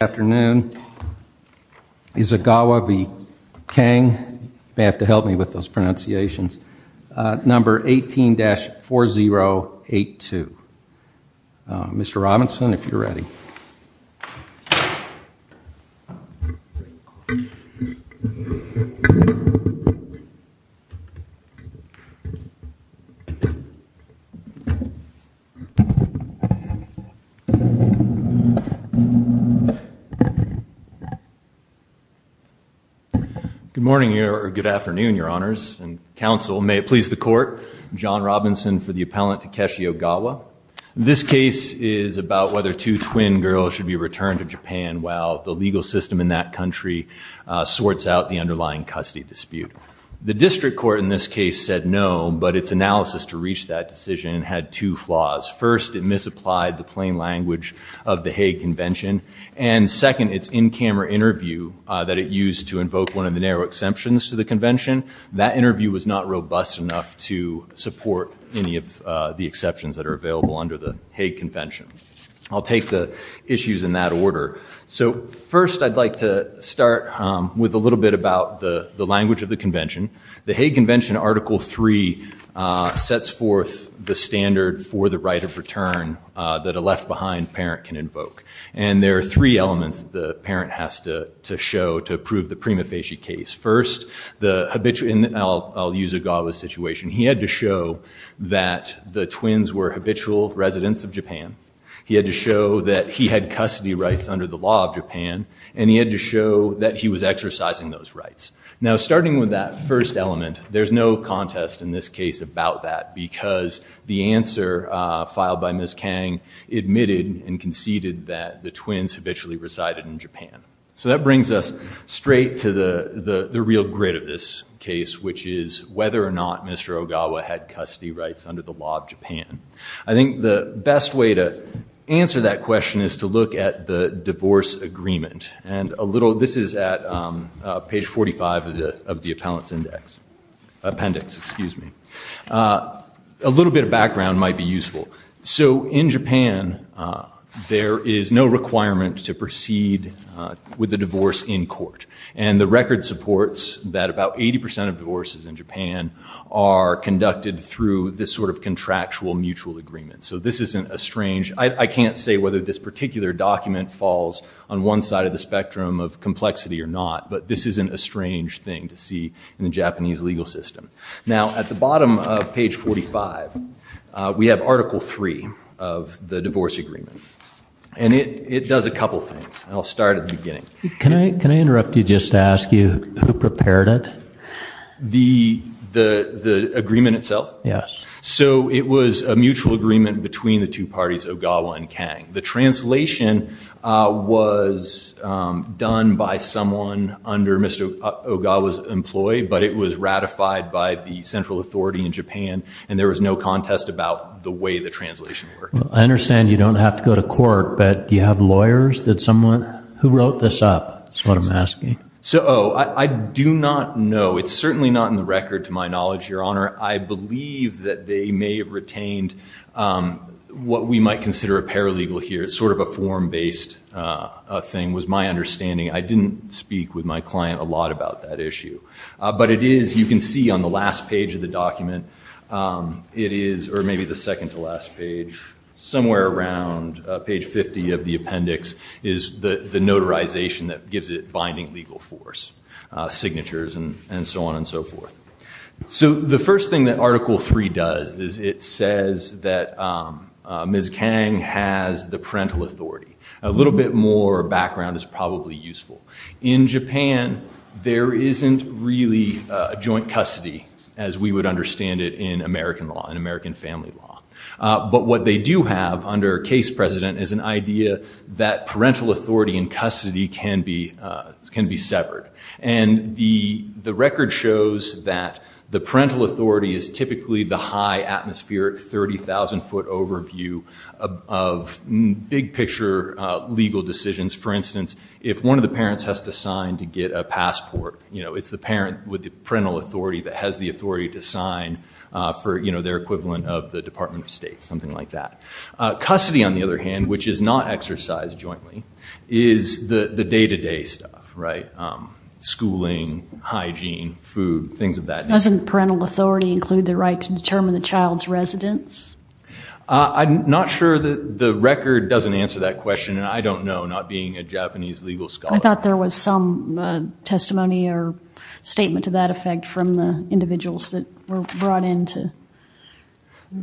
Afternoon. Isogawa v. Kang, you may have to help me with those pronunciations, number 18-4082. Mr. Robinson, if you're ready. Good morning or good afternoon, your honors and counsel. May it please the court, John Robinson for the appellant Takeshi Ogawa. This case is about whether two twin girls should be returned to Japan while the legal system in that country sorts out the underlying custody dispute. The district court in this case said no, but its analysis to reach that decision had two flaws. First, it misapplied the plain language of the Hague Convention. And second, its in-camera interview that it used to invoke one of the narrow exemptions to the convention, that interview was not robust enough to support any of the exceptions that are available under the Hague Convention. I'll take the issues in that order. So first I'd like to start with a little bit about the language of the convention. The Hague Convention Article 3 sets forth the standard for the right of return that a left-behind parent can invoke. And there are three elements that the parent has to show to approve the prima facie case. First, I'll use Ogawa's situation. He had to show that the twins were habitual residents of Japan. He had to show that he had custody rights under the law of Japan. And he had to show that he was exercising those rights. Now starting with that first element, there's no contest in this case about that because the answer filed by Ms. Kang admitted and conceded that the twins habitually resided in Japan. So that brings us straight to the real grit of this case, which is whether or not Mr. Ogawa had custody rights under the law of Japan. I think the best way to answer that question is to look at the divorce agreement. And this is at page 45 of the Appellant's Appendix. A little bit of background might be useful. So in Japan, there is no requirement to proceed with a divorce in court. And the record supports that about 80% of divorces in Japan are conducted through this sort of contractual mutual agreement. So this isn't a strange ‑‑ I can't say whether this particular document falls on one side of the spectrum of complexity or not, but this isn't a strange thing to see in the Japanese legal system. Now, at the bottom of page 45, we have Article III of the divorce agreement. And it does a couple things, and I'll start at the beginning. Can I interrupt you just to ask you who prepared it? The agreement itself? Yes. So it was a mutual agreement between the two parties, Ogawa and Kang. The translation was done by someone under Mr. Ogawa's employ, but it was ratified by the central authority in Japan, and there was no contest about the way the translation worked. I understand you don't have to go to court, but do you have lawyers? Did someone ‑‑ who wrote this up is what I'm asking. So, oh, I do not know. It's certainly not in the record to my knowledge, Your Honor. I believe that they may have retained what we might consider a paralegal here. It's sort of a form‑based thing was my understanding. I didn't speak with my client a lot about that issue. But it is, you can see on the last page of the document, it is, or maybe the second to last page, somewhere around page 50 of the appendix is the notarization that gives it binding legal force, signatures and so on and so forth. So the first thing that Article III does is it says that Ms. Kang has the parental authority. A little bit more background is probably useful. In Japan, there isn't really a joint custody as we would understand it in American law, in American family law. But what they do have under case precedent is an idea that parental authority and custody can be severed. And the record shows that the parental authority is typically the high atmospheric 30,000 foot overview of big picture legal decisions. For instance, if one of the parents has to sign to get a passport, it's the parent with the parental authority that has the authority to sign for their equivalent of the Department of State, something like that. Custody, on the other hand, which is not exercised jointly, is the day-to-day stuff, right? Schooling, hygiene, food, things of that nature. Doesn't parental authority include the right to determine the child's residence? I'm not sure that the record doesn't answer that question, and I don't know, not being a Japanese legal scholar. I thought there was some testimony or statement to that effect from the individuals that were brought in to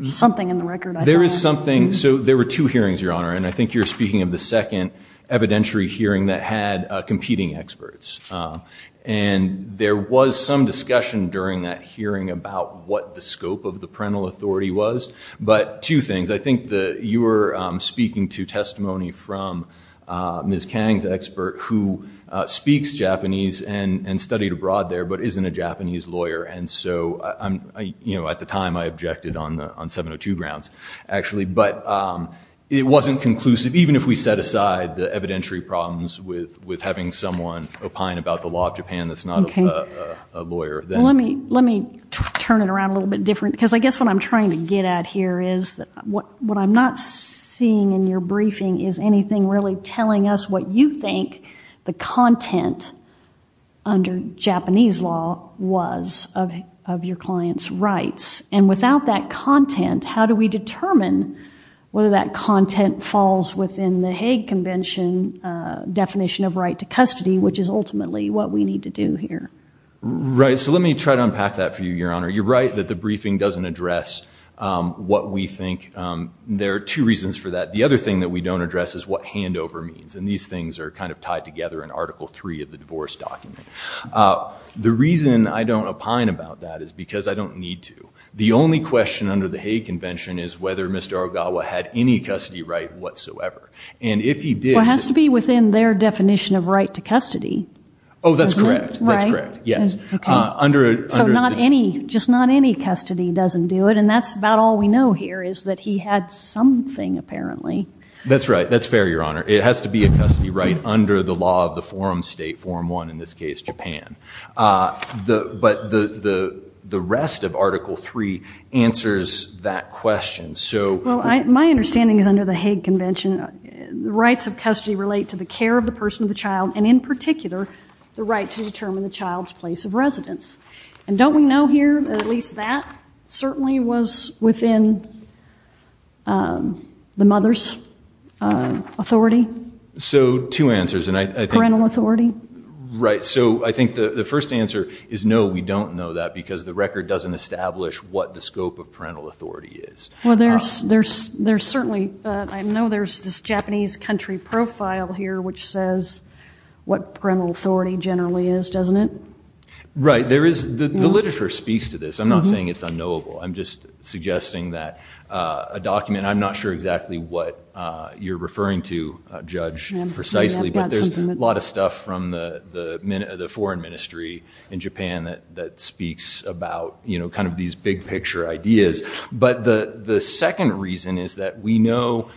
something in the record. There is something. So there were two hearings, Your Honor, and I think you're speaking of the second evidentiary hearing that had competing experts. And there was some discussion during that hearing about what the scope of the parental authority was. But two things. I think you were speaking to testimony from Ms. Kang's expert, who speaks Japanese and studied abroad there but isn't a Japanese lawyer. At the time, I objected on 702 grounds, actually. But it wasn't conclusive, even if we set aside the evidentiary problems with having someone opine about the law of Japan that's not a lawyer. Let me turn it around a little bit different. Because I guess what I'm trying to get at here is what I'm not seeing in your briefing is anything really telling us what you think the content under Japanese law was of your client's rights. And without that content, how do we determine whether that content falls within the Hague Convention definition of right to custody, which is ultimately what we need to do here? Right. So let me try to unpack that for you, Your Honor. You're right that the briefing doesn't address what we think. There are two reasons for that. The other thing that we don't address is what handover means. And these things are kind of tied together in Article III of the divorce document. The reason I don't opine about that is because I don't need to. The only question under the Hague Convention is whether Mr. Ogawa had any custody right whatsoever. And if he did— Well, it has to be within their definition of right to custody. Oh, that's correct. Right? That's correct, yes. Okay. So just not any custody doesn't do it. And that's about all we know here is that he had something, apparently. That's right. That's fair, Your Honor. It has to be a custody right under the law of the forum state, Form 1 in this case, Japan. But the rest of Article III answers that question. Well, my understanding is under the Hague Convention the rights of custody relate to the care of the person of the child and in particular the right to determine the child's place of residence. And don't we know here that at least that certainly was within the mother's authority? So two answers. Parental authority? Right. So I think the first answer is no, we don't know that because the record doesn't establish what the scope of parental authority is. Well, I know there's this Japanese country profile here which says what parental authority generally is, doesn't it? Right. The literature speaks to this. I'm not saying it's unknowable. I'm just suggesting that a document, I'm not sure exactly what you're referring to, Judge, precisely, but there's a lot of stuff from the foreign ministry in Japan that speaks about kind of these big-picture ideas. But the second reason is that we know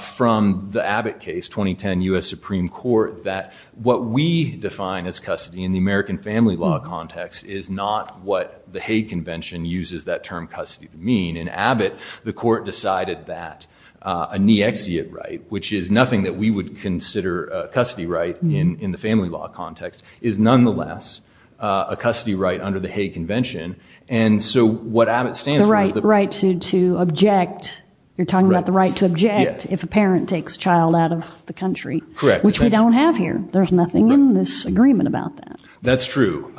from the Abbott case, 2010 U.S. Supreme Court, that what we define as custody in the American family law context is not what the Hague Convention uses that term custody to mean. In Abbott, the court decided that a niexiate right, which is nothing that we would consider a custody right in the family law context, is nonetheless a custody right under the Hague Convention. And so what Abbott stands for is the- The right to object. You're talking about the right to object if a parent takes a child out of the country. Correct. Which we don't have here. There's nothing in this agreement about that. That's true.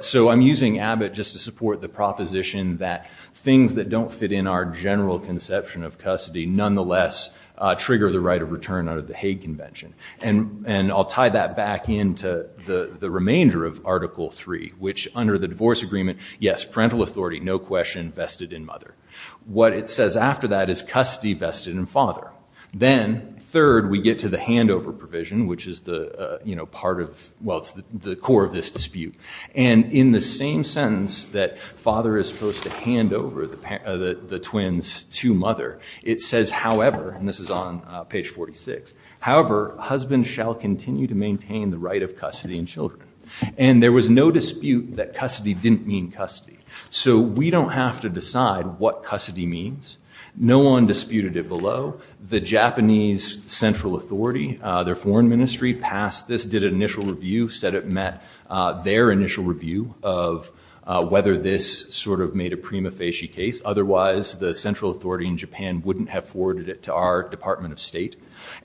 So I'm using Abbott just to support the proposition that things that don't fit in our general conception of custody nonetheless trigger the right of return under the Hague Convention. And I'll tie that back into the remainder of Article III, which under the divorce agreement, yes, parental authority, no question, vested in mother. What it says after that is custody vested in father. Then, third, we get to the handover provision, which is the part of- Well, it's the core of this dispute. And in the same sentence that father is supposed to hand over the twins to mother, it says, however, and this is on page 46, however, husband shall continue to maintain the right of custody in children. And there was no dispute that custody didn't mean custody. So we don't have to decide what custody means. No one disputed it below. The Japanese central authority, their foreign ministry, passed this, did an initial review, said it met their initial review of whether this sort of made a prima facie case. Otherwise, the central authority in Japan wouldn't have forwarded it to our Department of State.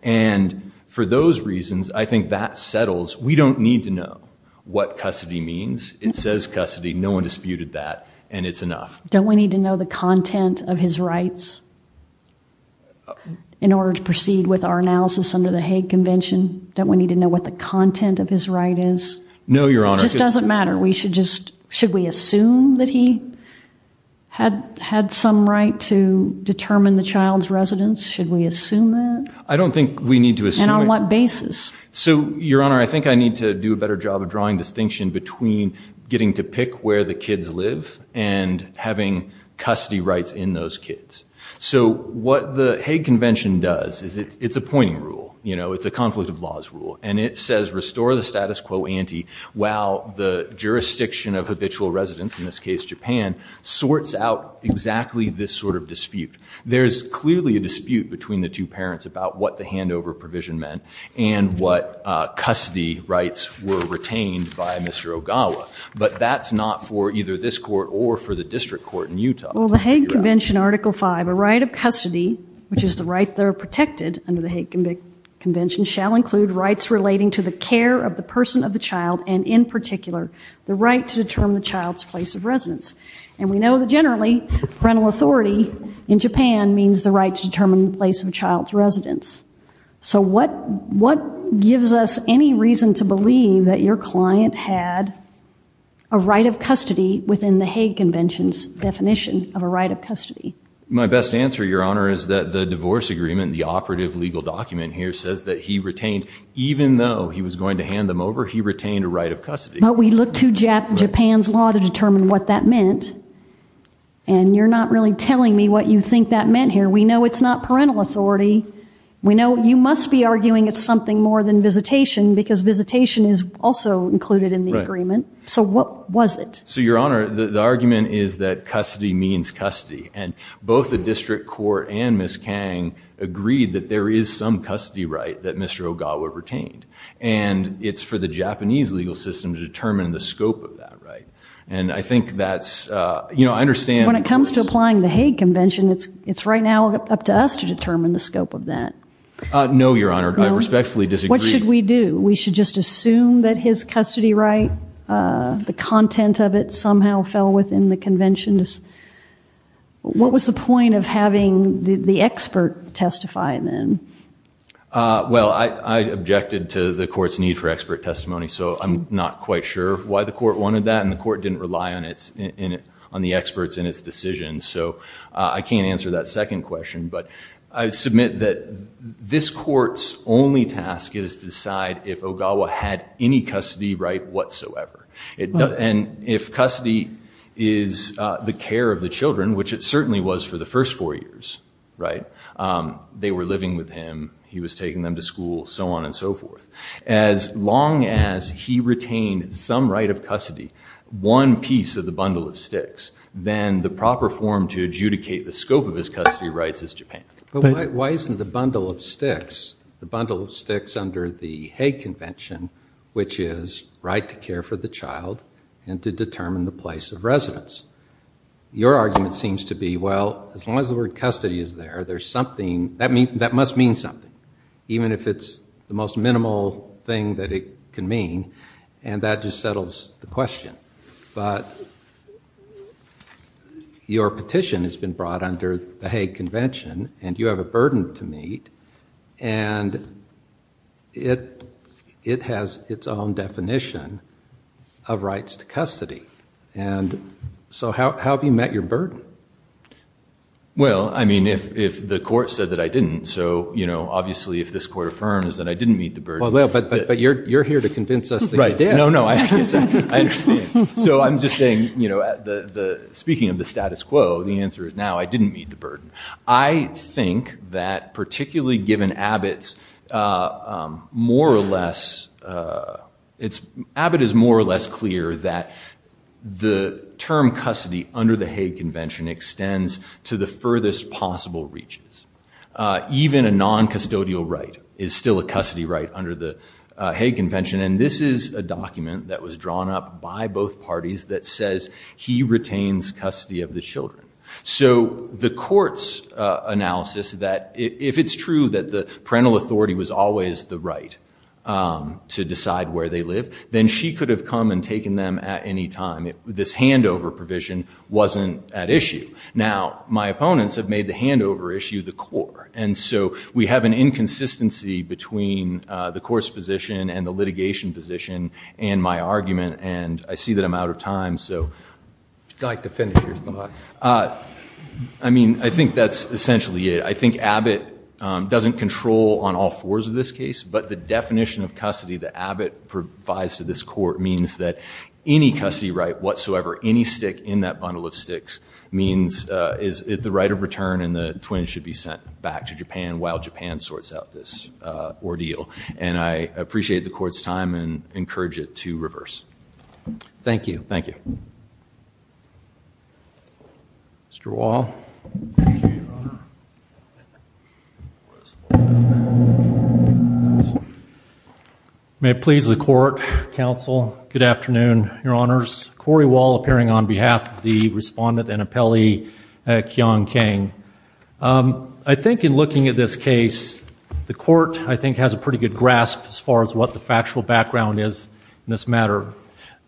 And for those reasons, I think that settles. We don't need to know what custody means. It says custody. No one disputed that. And it's enough. Don't we need to know the content of his rights in order to proceed with our analysis under the Hague Convention? Don't we need to know what the content of his right is? No, Your Honor. It just doesn't matter. Should we assume that he had some right to determine the child's residence? Should we assume that? I don't think we need to assume it. And on what basis? So, Your Honor, I think I need to do a better job of drawing distinction between getting to pick where the kids live and having custody rights in those kids. So what the Hague Convention does is it's a pointing rule. You know, it's a conflict of laws rule. And it says restore the status quo ante while the jurisdiction of habitual residents, in this case Japan, sorts out exactly this sort of dispute. There's clearly a dispute between the two parents about what the handover provision meant and what custody rights were retained by Mr. Ogawa. But that's not for either this court or for the district court in Utah. Well, the Hague Convention Article 5, a right of custody, which is the right there protected under the Hague Convention, shall include rights relating to the care of the person of the child and, in particular, the right to determine the child's place of residence. And we know that, generally, parental authority in Japan means the right to determine the place of a child's residence. So what gives us any reason to believe that your client had a right of custody within the Hague Convention's definition of a right of custody? My best answer, Your Honor, is that the divorce agreement, the operative legal document here, says that he retained, even though he was going to hand them over, he retained a right of custody. But we looked to Japan's law to determine what that meant, and you're not really telling me what you think that meant here. We know it's not parental authority. We know you must be arguing it's something more than visitation because visitation is also included in the agreement. Right. So what was it? So, Your Honor, the argument is that custody means custody, and both the district court and Ms. Kang agreed that there is some custody right that Mr. Ogawa retained, and it's for the Japanese legal system to determine the scope of that right. And I think that's, you know, I understand. When it comes to applying the Hague Convention, it's right now up to us to determine the scope of that. No, Your Honor, I respectfully disagree. What should we do? We should just assume that his custody right, the content of it, somehow fell within the convention? What was the point of having the expert testify then? Well, I objected to the court's need for expert testimony, so I'm not quite sure why the court wanted that, and the court didn't rely on the experts in its decision, so I can't answer that second question. But I submit that this court's only task is to decide if Ogawa had any custody right whatsoever. And if custody is the care of the children, which it certainly was for the first four years, right, they were living with him, he was taking them to school, so on and so forth. As long as he retained some right of custody, one piece of the bundle of sticks, then the proper form to adjudicate the scope of his custody rights is Japan. But why isn't the bundle of sticks, the bundle of sticks under the Hague Convention, which is right to care for the child and to determine the place of residence? Your argument seems to be, well, as long as the word custody is there, there's something, that must mean something, even if it's the most minimal thing that it can mean, and that just settles the question. But your petition has been brought under the Hague Convention, and you have a burden to meet, and it has its own definition of rights to custody. And so how have you met your burden? Well, I mean, if the court said that I didn't, so, you know, obviously if this court affirms that I didn't meet the burden. Well, but you're here to convince us that you did. No, no, I understand. So I'm just saying, you know, speaking of the status quo, the answer is now I didn't meet the burden. I think that particularly given Abbott's more or less, Abbott is more or less clear that the term custody under the Hague Convention extends to the furthest possible reaches. Even a non-custodial right is still a custody right under the Hague Convention, and this is a document that was drawn up by both parties that says he retains custody of the children. So the court's analysis that if it's true that the parental authority was always the right to decide where they live, then she could have come and taken them at any time. This handover provision wasn't at issue. Now, my opponents have made the handover issue the core, and so we have an inconsistency between the court's position and the litigation position and my argument, and I see that I'm out of time, so. I'd like to finish your thought. I mean, I think that's essentially it. I think Abbott doesn't control on all fours of this case, but the definition of custody that Abbott provides to this court means that any custody right whatsoever, any stick in that bundle of sticks means the right of return and the twins should be sent back to Japan while Japan sorts out this ordeal. And I appreciate the court's time and encourage it to reverse. Thank you. Thank you. Mr. Wall. Thank you, Your Honor. May it please the court, counsel. Good afternoon, Your Honors. Cory Wall appearing on behalf of the respondent and appellee, Kyung Kang. I think in looking at this case, the court, I think, has a pretty good grasp as far as what the factual background is in this matter.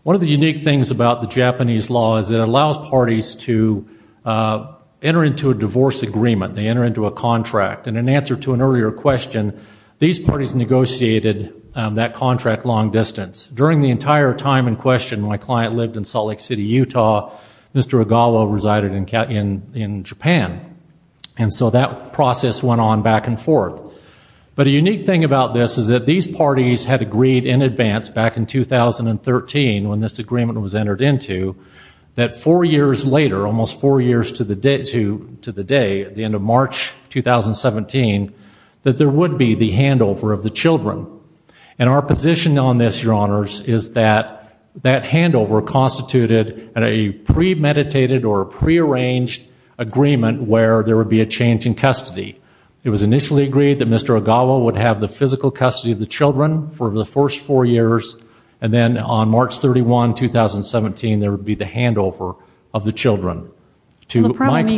One of the unique things about the Japanese law is it allows parties to enter into a divorce agreement. They enter into a contract, and in answer to an earlier question, these parties negotiated that contract long distance. During the entire time in question, my client lived in Salt Lake City, Utah. Mr. Ogawa resided in Japan. And so that process went on back and forth. But a unique thing about this is that these parties had agreed in advance back in 2013, when this agreement was entered into, that four years later, almost four years to the day, at the end of March 2017, that there would be the handover of the children. And our position on this, Your Honors, is that that handover constituted a premeditated or prearranged agreement where there would be a change in custody. It was initially agreed that Mr. Ogawa would have the physical custody of the children for the first four years, and then on March 31, 2017, there would be the handover of the children to my client.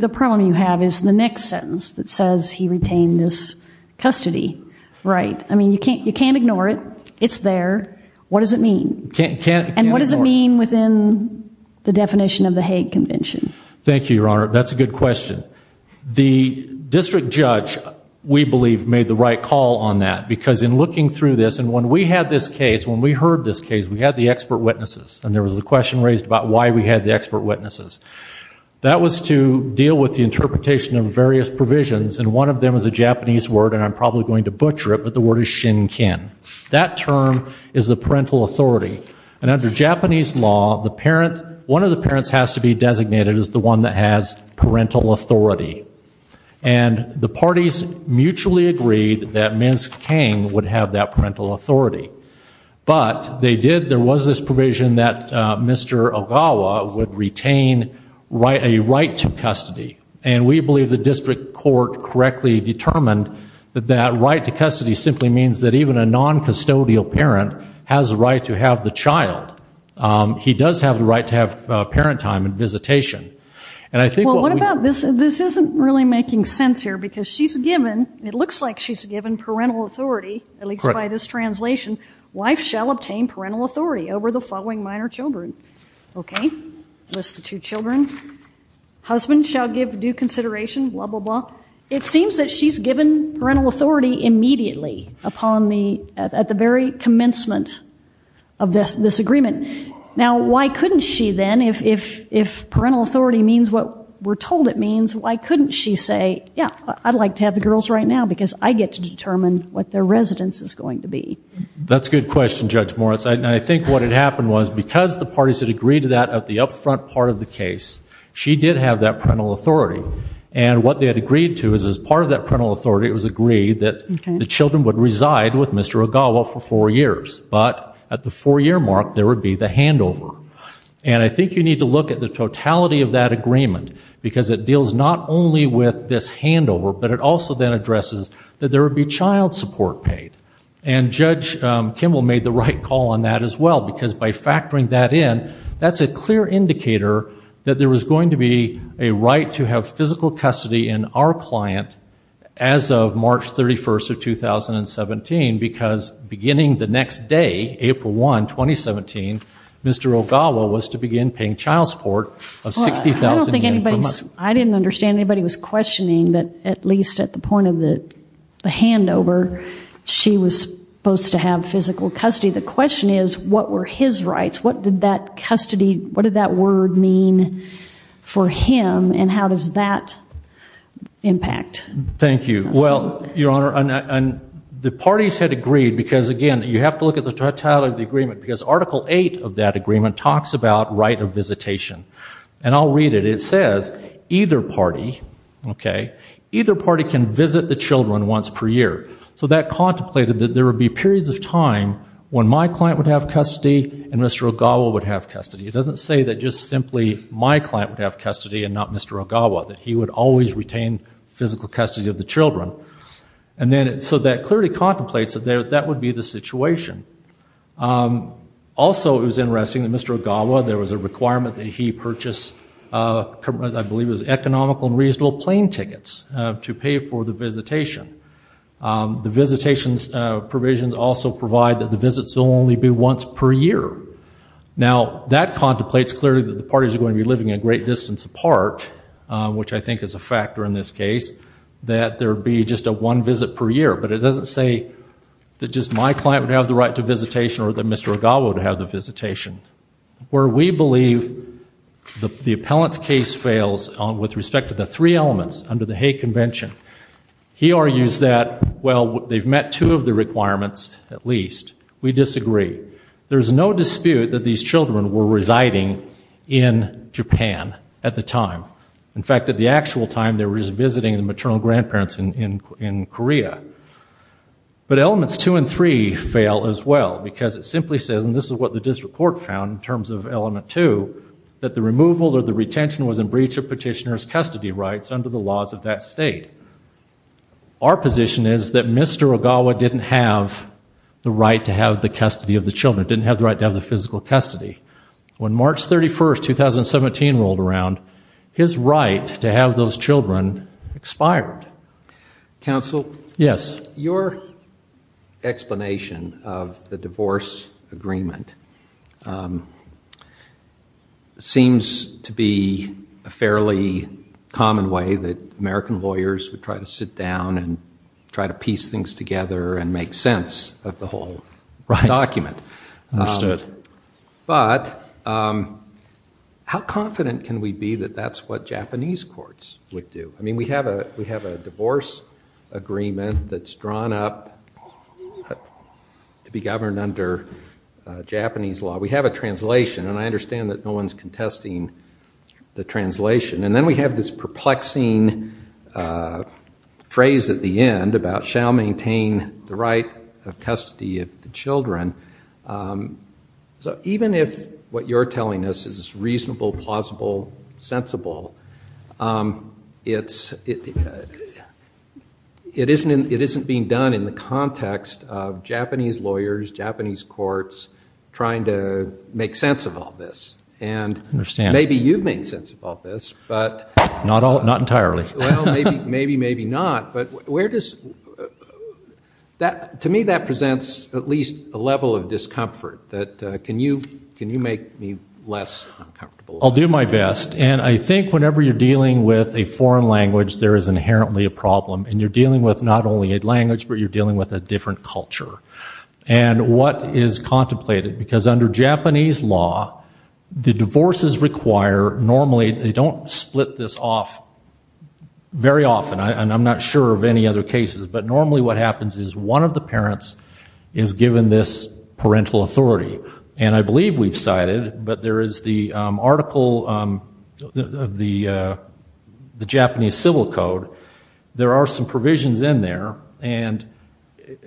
The problem you have is the next sentence that says he retained his custody, right? I mean, you can't ignore it. It's there. What does it mean? And what does it mean within the definition of the Hague Convention? Thank you, Your Honor. That's a good question. The district judge, we believe, made the right call on that, because in looking through this, and when we had this case, when we heard this case, we had the expert witnesses, and there was a question raised about why we had the expert witnesses. That was to deal with the interpretation of various provisions, and one of them is a Japanese word, and I'm probably going to butcher it, but the word is shinkin. That term is the parental authority, and under Japanese law, one of the parents has to be designated as the one that has parental authority. And the parties mutually agreed that Ms. Kang would have that parental authority. But there was this provision that Mr. Ogawa would retain a right to custody, and we believe the district court correctly determined that that right to custody simply means that even a non-custodial parent has the right to have the child. He does have the right to have parent time and visitation. Well, what about this? This isn't really making sense here, because she's given, at least by this translation, wife shall obtain parental authority over the following minor children. Okay. List the two children. Husband shall give due consideration, blah, blah, blah. It seems that she's given parental authority immediately upon the, at the very commencement of this agreement. Now, why couldn't she then, if parental authority means what we're told it means, why couldn't she say, yeah, I'd like to have the girls right now because I get to determine what their residence is going to be? That's a good question, Judge Moritz. And I think what had happened was because the parties had agreed to that at the upfront part of the case, she did have that parental authority. And what they had agreed to is as part of that parental authority, it was agreed that the children would reside with Mr. Ogawa for four years. But at the four-year mark, there would be the handover. And I think you need to look at the totality of that agreement because it deals not only with this handover, but it also then addresses that there would be child support paid. And Judge Kimball made the right call on that as well because by factoring that in, that's a clear indicator that there was going to be a right to have physical custody in our client as of March 31st of 2017 because beginning the next day, April 1, 2017, Mr. Ogawa was to begin paying child support of 60,000 yen per month. I didn't understand. Anybody was questioning that at least at the point of the handover, she was supposed to have physical custody. The question is what were his rights? What did that custody, what did that word mean for him and how does that impact? Thank you. Well, Your Honor, the parties had agreed because, again, you have to look at the totality of the agreement because Article 8 of that agreement talks about right of visitation. And I'll read it. It says either party can visit the children once per year. So that contemplated that there would be periods of time when my client would have custody and Mr. Ogawa would have custody. It doesn't say that just simply my client would have custody and not Mr. Ogawa, that he would always retain physical custody of the children. So that clearly contemplates that that would be the situation. Also, it was interesting that Mr. Ogawa, there was a requirement that he purchase, I believe it was economical and reasonable plane tickets to pay for the visitation. The visitation provisions also provide that the visits will only be once per year. Now, that contemplates clearly that the parties are going to be living a great distance apart, which I think is a factor in this case, that there be just a one visit per year. But it doesn't say that just my client would have the right to visitation or that Mr. Ogawa would have the visitation. Where we believe the appellant's case fails with respect to the three elements under the Hague Convention. He argues that, well, they've met two of the requirements at least. We disagree. There's no dispute that these children were residing in Japan at the time. In fact, at the actual time, they were just visiting the maternal grandparents in Korea. But elements two and three fail as well because it simply says, and this is what the district court found in terms of element two, that the removal or the retention was in breach of petitioner's custody rights under the laws of that state. Our position is that Mr. Ogawa didn't have the right to have the custody of the children, didn't have the right to have the physical custody. When March 31, 2017 rolled around, his right to have those children expired. Counsel? Yes. Your explanation of the divorce agreement seems to be a fairly common way that American lawyers would try to sit down and try to piece things together and make sense of the whole document. Understood. But how confident can we be that that's what Japanese courts would do? I mean, we have a divorce agreement that's drawn up to be governed under Japanese law. We have a translation, and I understand that no one's contesting the translation. And then we have this perplexing phrase at the end about shall maintain the right of custody of the children. So even if what you're telling us is reasonable, plausible, sensible, it isn't being done in the context of Japanese lawyers, Japanese courts trying to make sense of all this. And maybe you've made sense of all this. Not entirely. Well, maybe, maybe not. But to me, that presents at least a level of discomfort. Can you make me less uncomfortable? I'll do my best. And I think whenever you're dealing with a foreign language, there is inherently a problem. And you're dealing with not only a language, but you're dealing with a different culture. And what is contemplated? Because under Japanese law, the divorces require normally they don't split this off very often. And I'm not sure of any other cases. But normally what happens is one of the parents is given this parental authority. And I believe we've cited, but there is the article of the Japanese Civil Code. There are some provisions in there. And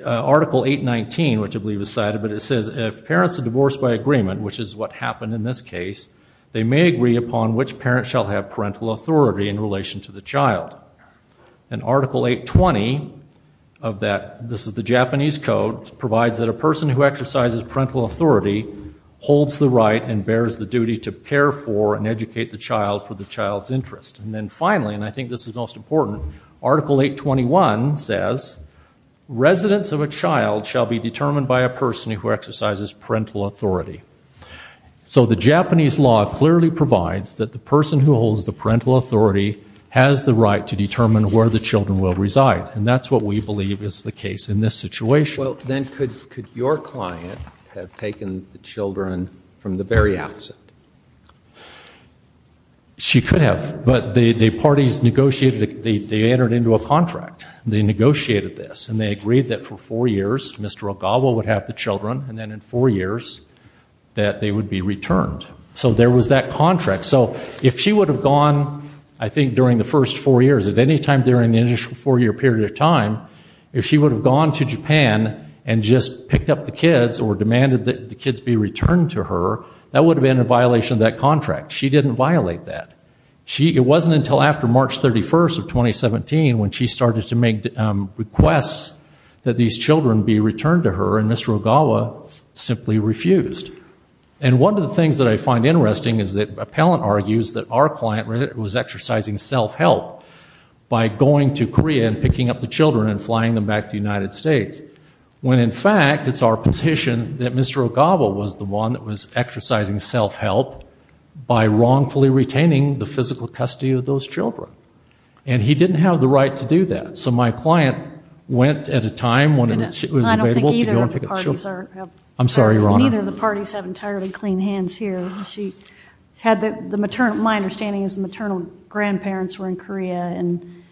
Article 819, which I believe is cited, but it says, if parents are divorced by agreement, which is what happened in this case, they may agree upon which parent shall have parental authority in relation to the child. And Article 820 of that, this is the Japanese code, provides that a person who exercises parental authority holds the right and bears the duty to care for and educate the child for the child's interest. And then finally, and I think this is most important, Article 821 says, residents of a child shall be determined by a person who exercises parental authority. So the Japanese law clearly provides that the person who holds the parental authority has the right to determine where the children will reside. And that's what we believe is the case in this situation. Well, then could your client have taken the children from the very outset? She could have. But the parties negotiated, they entered into a contract. They negotiated this. And then in four years that they would be returned. So there was that contract. So if she would have gone, I think, during the first four years, at any time during the initial four-year period of time, if she would have gone to Japan and just picked up the kids or demanded that the kids be returned to her, that would have been a violation of that contract. She didn't violate that. It wasn't until after March 31st of 2017 when she started to make requests that these children be returned to her, and Mr. Ogawa simply refused. And one of the things that I find interesting is that appellant argues that our client was exercising self-help by going to Korea and picking up the children and flying them back to the United States, when in fact it's our position that Mr. Ogawa was the one that was exercising self-help by wrongfully retaining the physical custody of those children. And he didn't have the right to do that. So my client went at a time when it was available to go and pick up the children. I'm sorry, Your Honor. Neither of the parties have entirely clean hands here. My understanding is the maternal grandparents were in Korea, and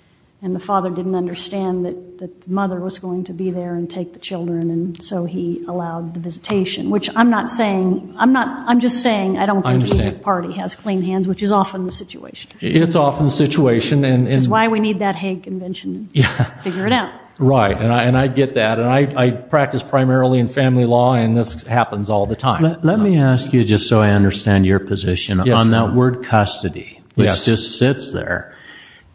the father didn't understand that the mother was going to be there and take the children, and so he allowed the visitation, which I'm not saying. I'm just saying I don't think either party has clean hands, which is often the situation. It's often the situation. Which is why we need that Hank Convention to figure it out. Right, and I get that. And I practice primarily in family law, and this happens all the time. Let me ask you, just so I understand your position, on that word custody, which just sits there.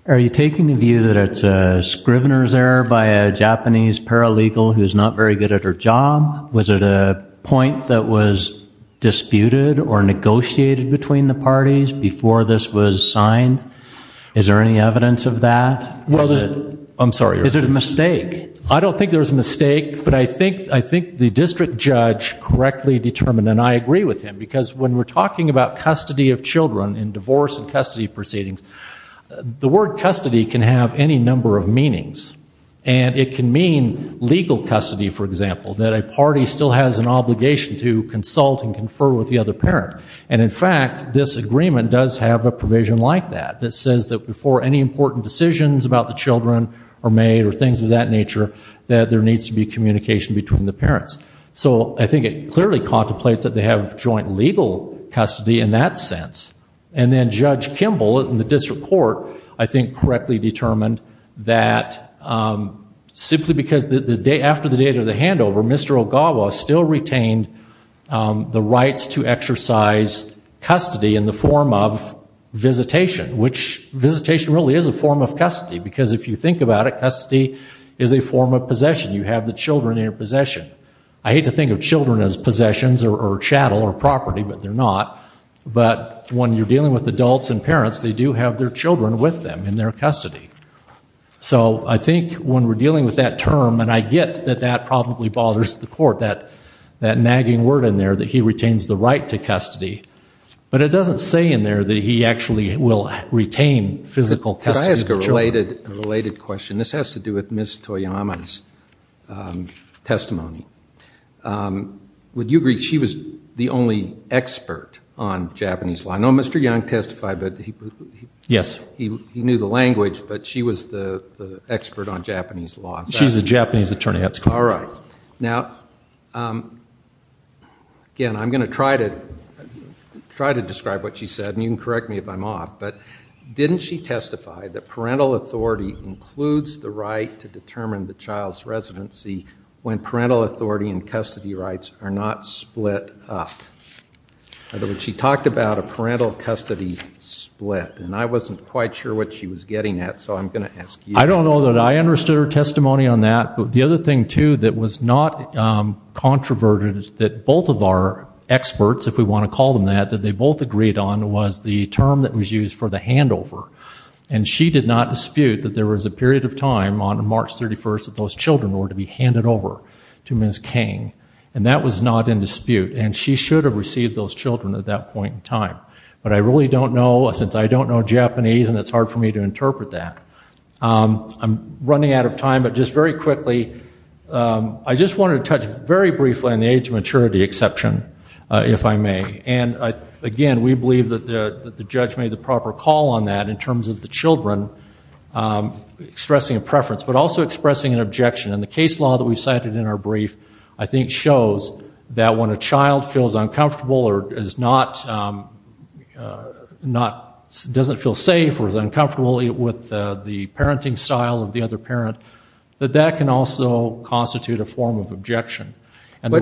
Are you taking the view that it's a scrivener's error by a Japanese paralegal who's not very good at her job? Was it a point that was disputed or negotiated between the parties before this was signed? Is there any evidence of that? I'm sorry, Your Honor. Is it a mistake? I don't think there's a mistake, but I think the district judge correctly determined, and I agree with him, because when we're talking about custody of children in divorce and custody proceedings, the word custody can have any number of meanings. And it can mean legal custody, for example, that a party still has an obligation to consult and confer with the other parent. And, in fact, this agreement does have a provision like that, that says that before any important decisions about the children are made or things of that nature, that there needs to be communication between the parents. So I think it clearly contemplates that they have joint legal custody in that sense. And then Judge Kimball in the district court, I think, correctly determined that simply because after the date of the handover, Mr. Ogawa still retained the rights to exercise custody in the form of visitation, which visitation really is a form of custody, because if you think about it, custody is a form of possession. You have the children in your possession. I hate to think of children as possessions or chattel or property, but they're not. But when you're dealing with adults and parents, they do have their children with them in their custody. So I think when we're dealing with that term, and I get that that probably bothers the court, that nagging word in there that he retains the right to custody, but it doesn't say in there that he actually will retain physical custody of the children. Could I ask a related question? This has to do with Ms. Toyama's testimony. Would you agree she was the only expert on Japanese law? I know Mr. Young testified, but he knew the language, but she was the expert on Japanese law. She's a Japanese attorney. All right. Now, again, I'm going to try to describe what she said, and you can correct me if I'm off, but didn't she testify that parental authority includes the right to determine the child's residency when parental authority and custody rights are not split up? In other words, she talked about a parental custody split, and I wasn't quite sure what she was getting at, so I'm going to ask you. I don't know that I understood her testimony on that, but the other thing, too, that was not controverted that both of our experts, if we want to call them that, that they both agreed on was the term that was used for the handover, and she did not dispute that there was a period of time on March 31st that those children were to be handed over to Ms. King, and that was not in dispute, and she should have received those children at that point in time. But I really don't know, since I don't know Japanese, and it's hard for me to interpret that. I'm running out of time, but just very quickly, I just wanted to touch very briefly on the age maturity exception, if I may. And, again, we believe that the judge made the proper call on that in terms of the children expressing a preference, but also expressing an objection, and the case law that we cited in our brief, I think, shows that when a child feels uncomfortable or doesn't feel safe or is uncomfortable with the parenting style of the other parent, that that can also constitute a form of objection. What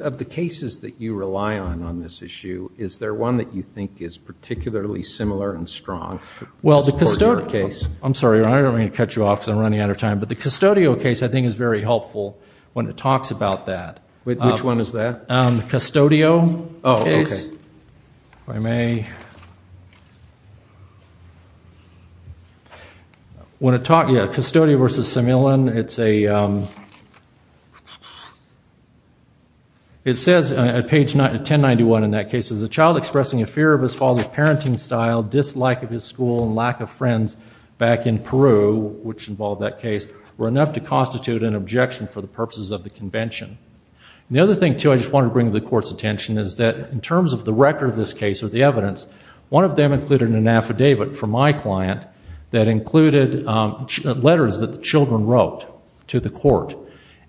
of the cases that you rely on on this issue, is there one that you think is particularly similar and strong to support your case? I'm sorry, I don't mean to cut you off because I'm running out of time, but the Custodio case, I think, is very helpful when it talks about that. Which one is that? The Custodio case. Oh, okay. If I may. When it talks, yeah, Custodio v. Semillon, it's a, it says at page 1091 in that case, is a child expressing a fear of his father's parenting style, dislike of his school, and lack of friends back in Peru, which involved that case, were enough to constitute an objection for the purposes of the convention. The other thing, too, I just wanted to bring to the Court's attention, is that in terms of the record of this case or the evidence, one of them included an affidavit from my client that included letters that the children wrote to the Court.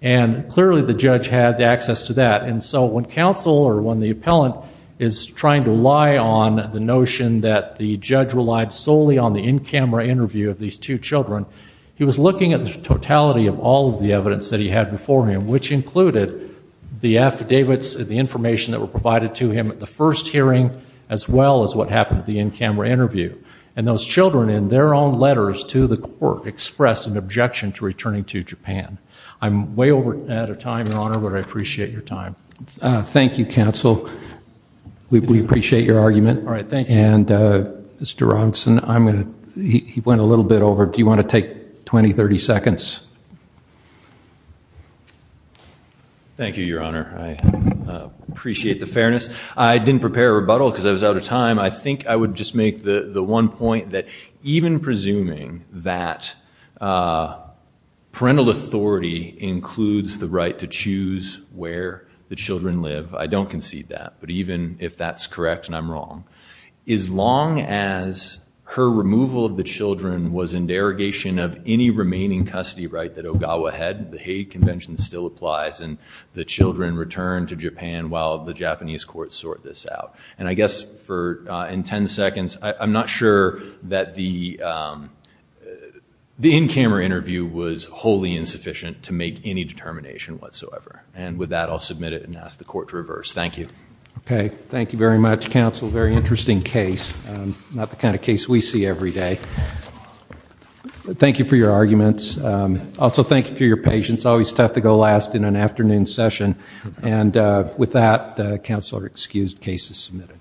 And clearly the judge had access to that. And so when counsel or when the appellant is trying to lie on the notion that the judge relied solely on the in-camera interview of these two children, he was looking at the totality of all of the evidence that he had before him, which included the affidavits and the information that were provided to him at the first hearing, as well as what happened at the in-camera interview. And those children, in their own letters to the Court, expressed an objection to returning to Japan. I'm way over ahead of time, Your Honor, but I appreciate your time. Thank you, counsel. We appreciate your argument. All right, thank you. And Mr. Robinson, he went a little bit over. Do you want to take 20, 30 seconds? Thank you, Your Honor. I appreciate the fairness. I didn't prepare a rebuttal because I was out of time. I think I would just make the one point that even presuming that parental authority includes the right to choose where the children live, I don't concede that. But even if that's correct, and I'm wrong, as long as her removal of the children was in derogation of any remaining custody right that Ogawa had, the Hague Convention still applies, and the children return to Japan while the Japanese courts sort this out. And I guess in 10 seconds, I'm not sure that the in-camera interview was wholly insufficient to make any determination whatsoever. And with that, I'll submit it and ask the Court to reverse. Thank you. Okay. Thank you very much, Counsel. Very interesting case. Not the kind of case we see every day. Thank you for your arguments. Also, thank you for your patience. Always tough to go last in an afternoon session. And with that, Counsel are excused. Case is submitted.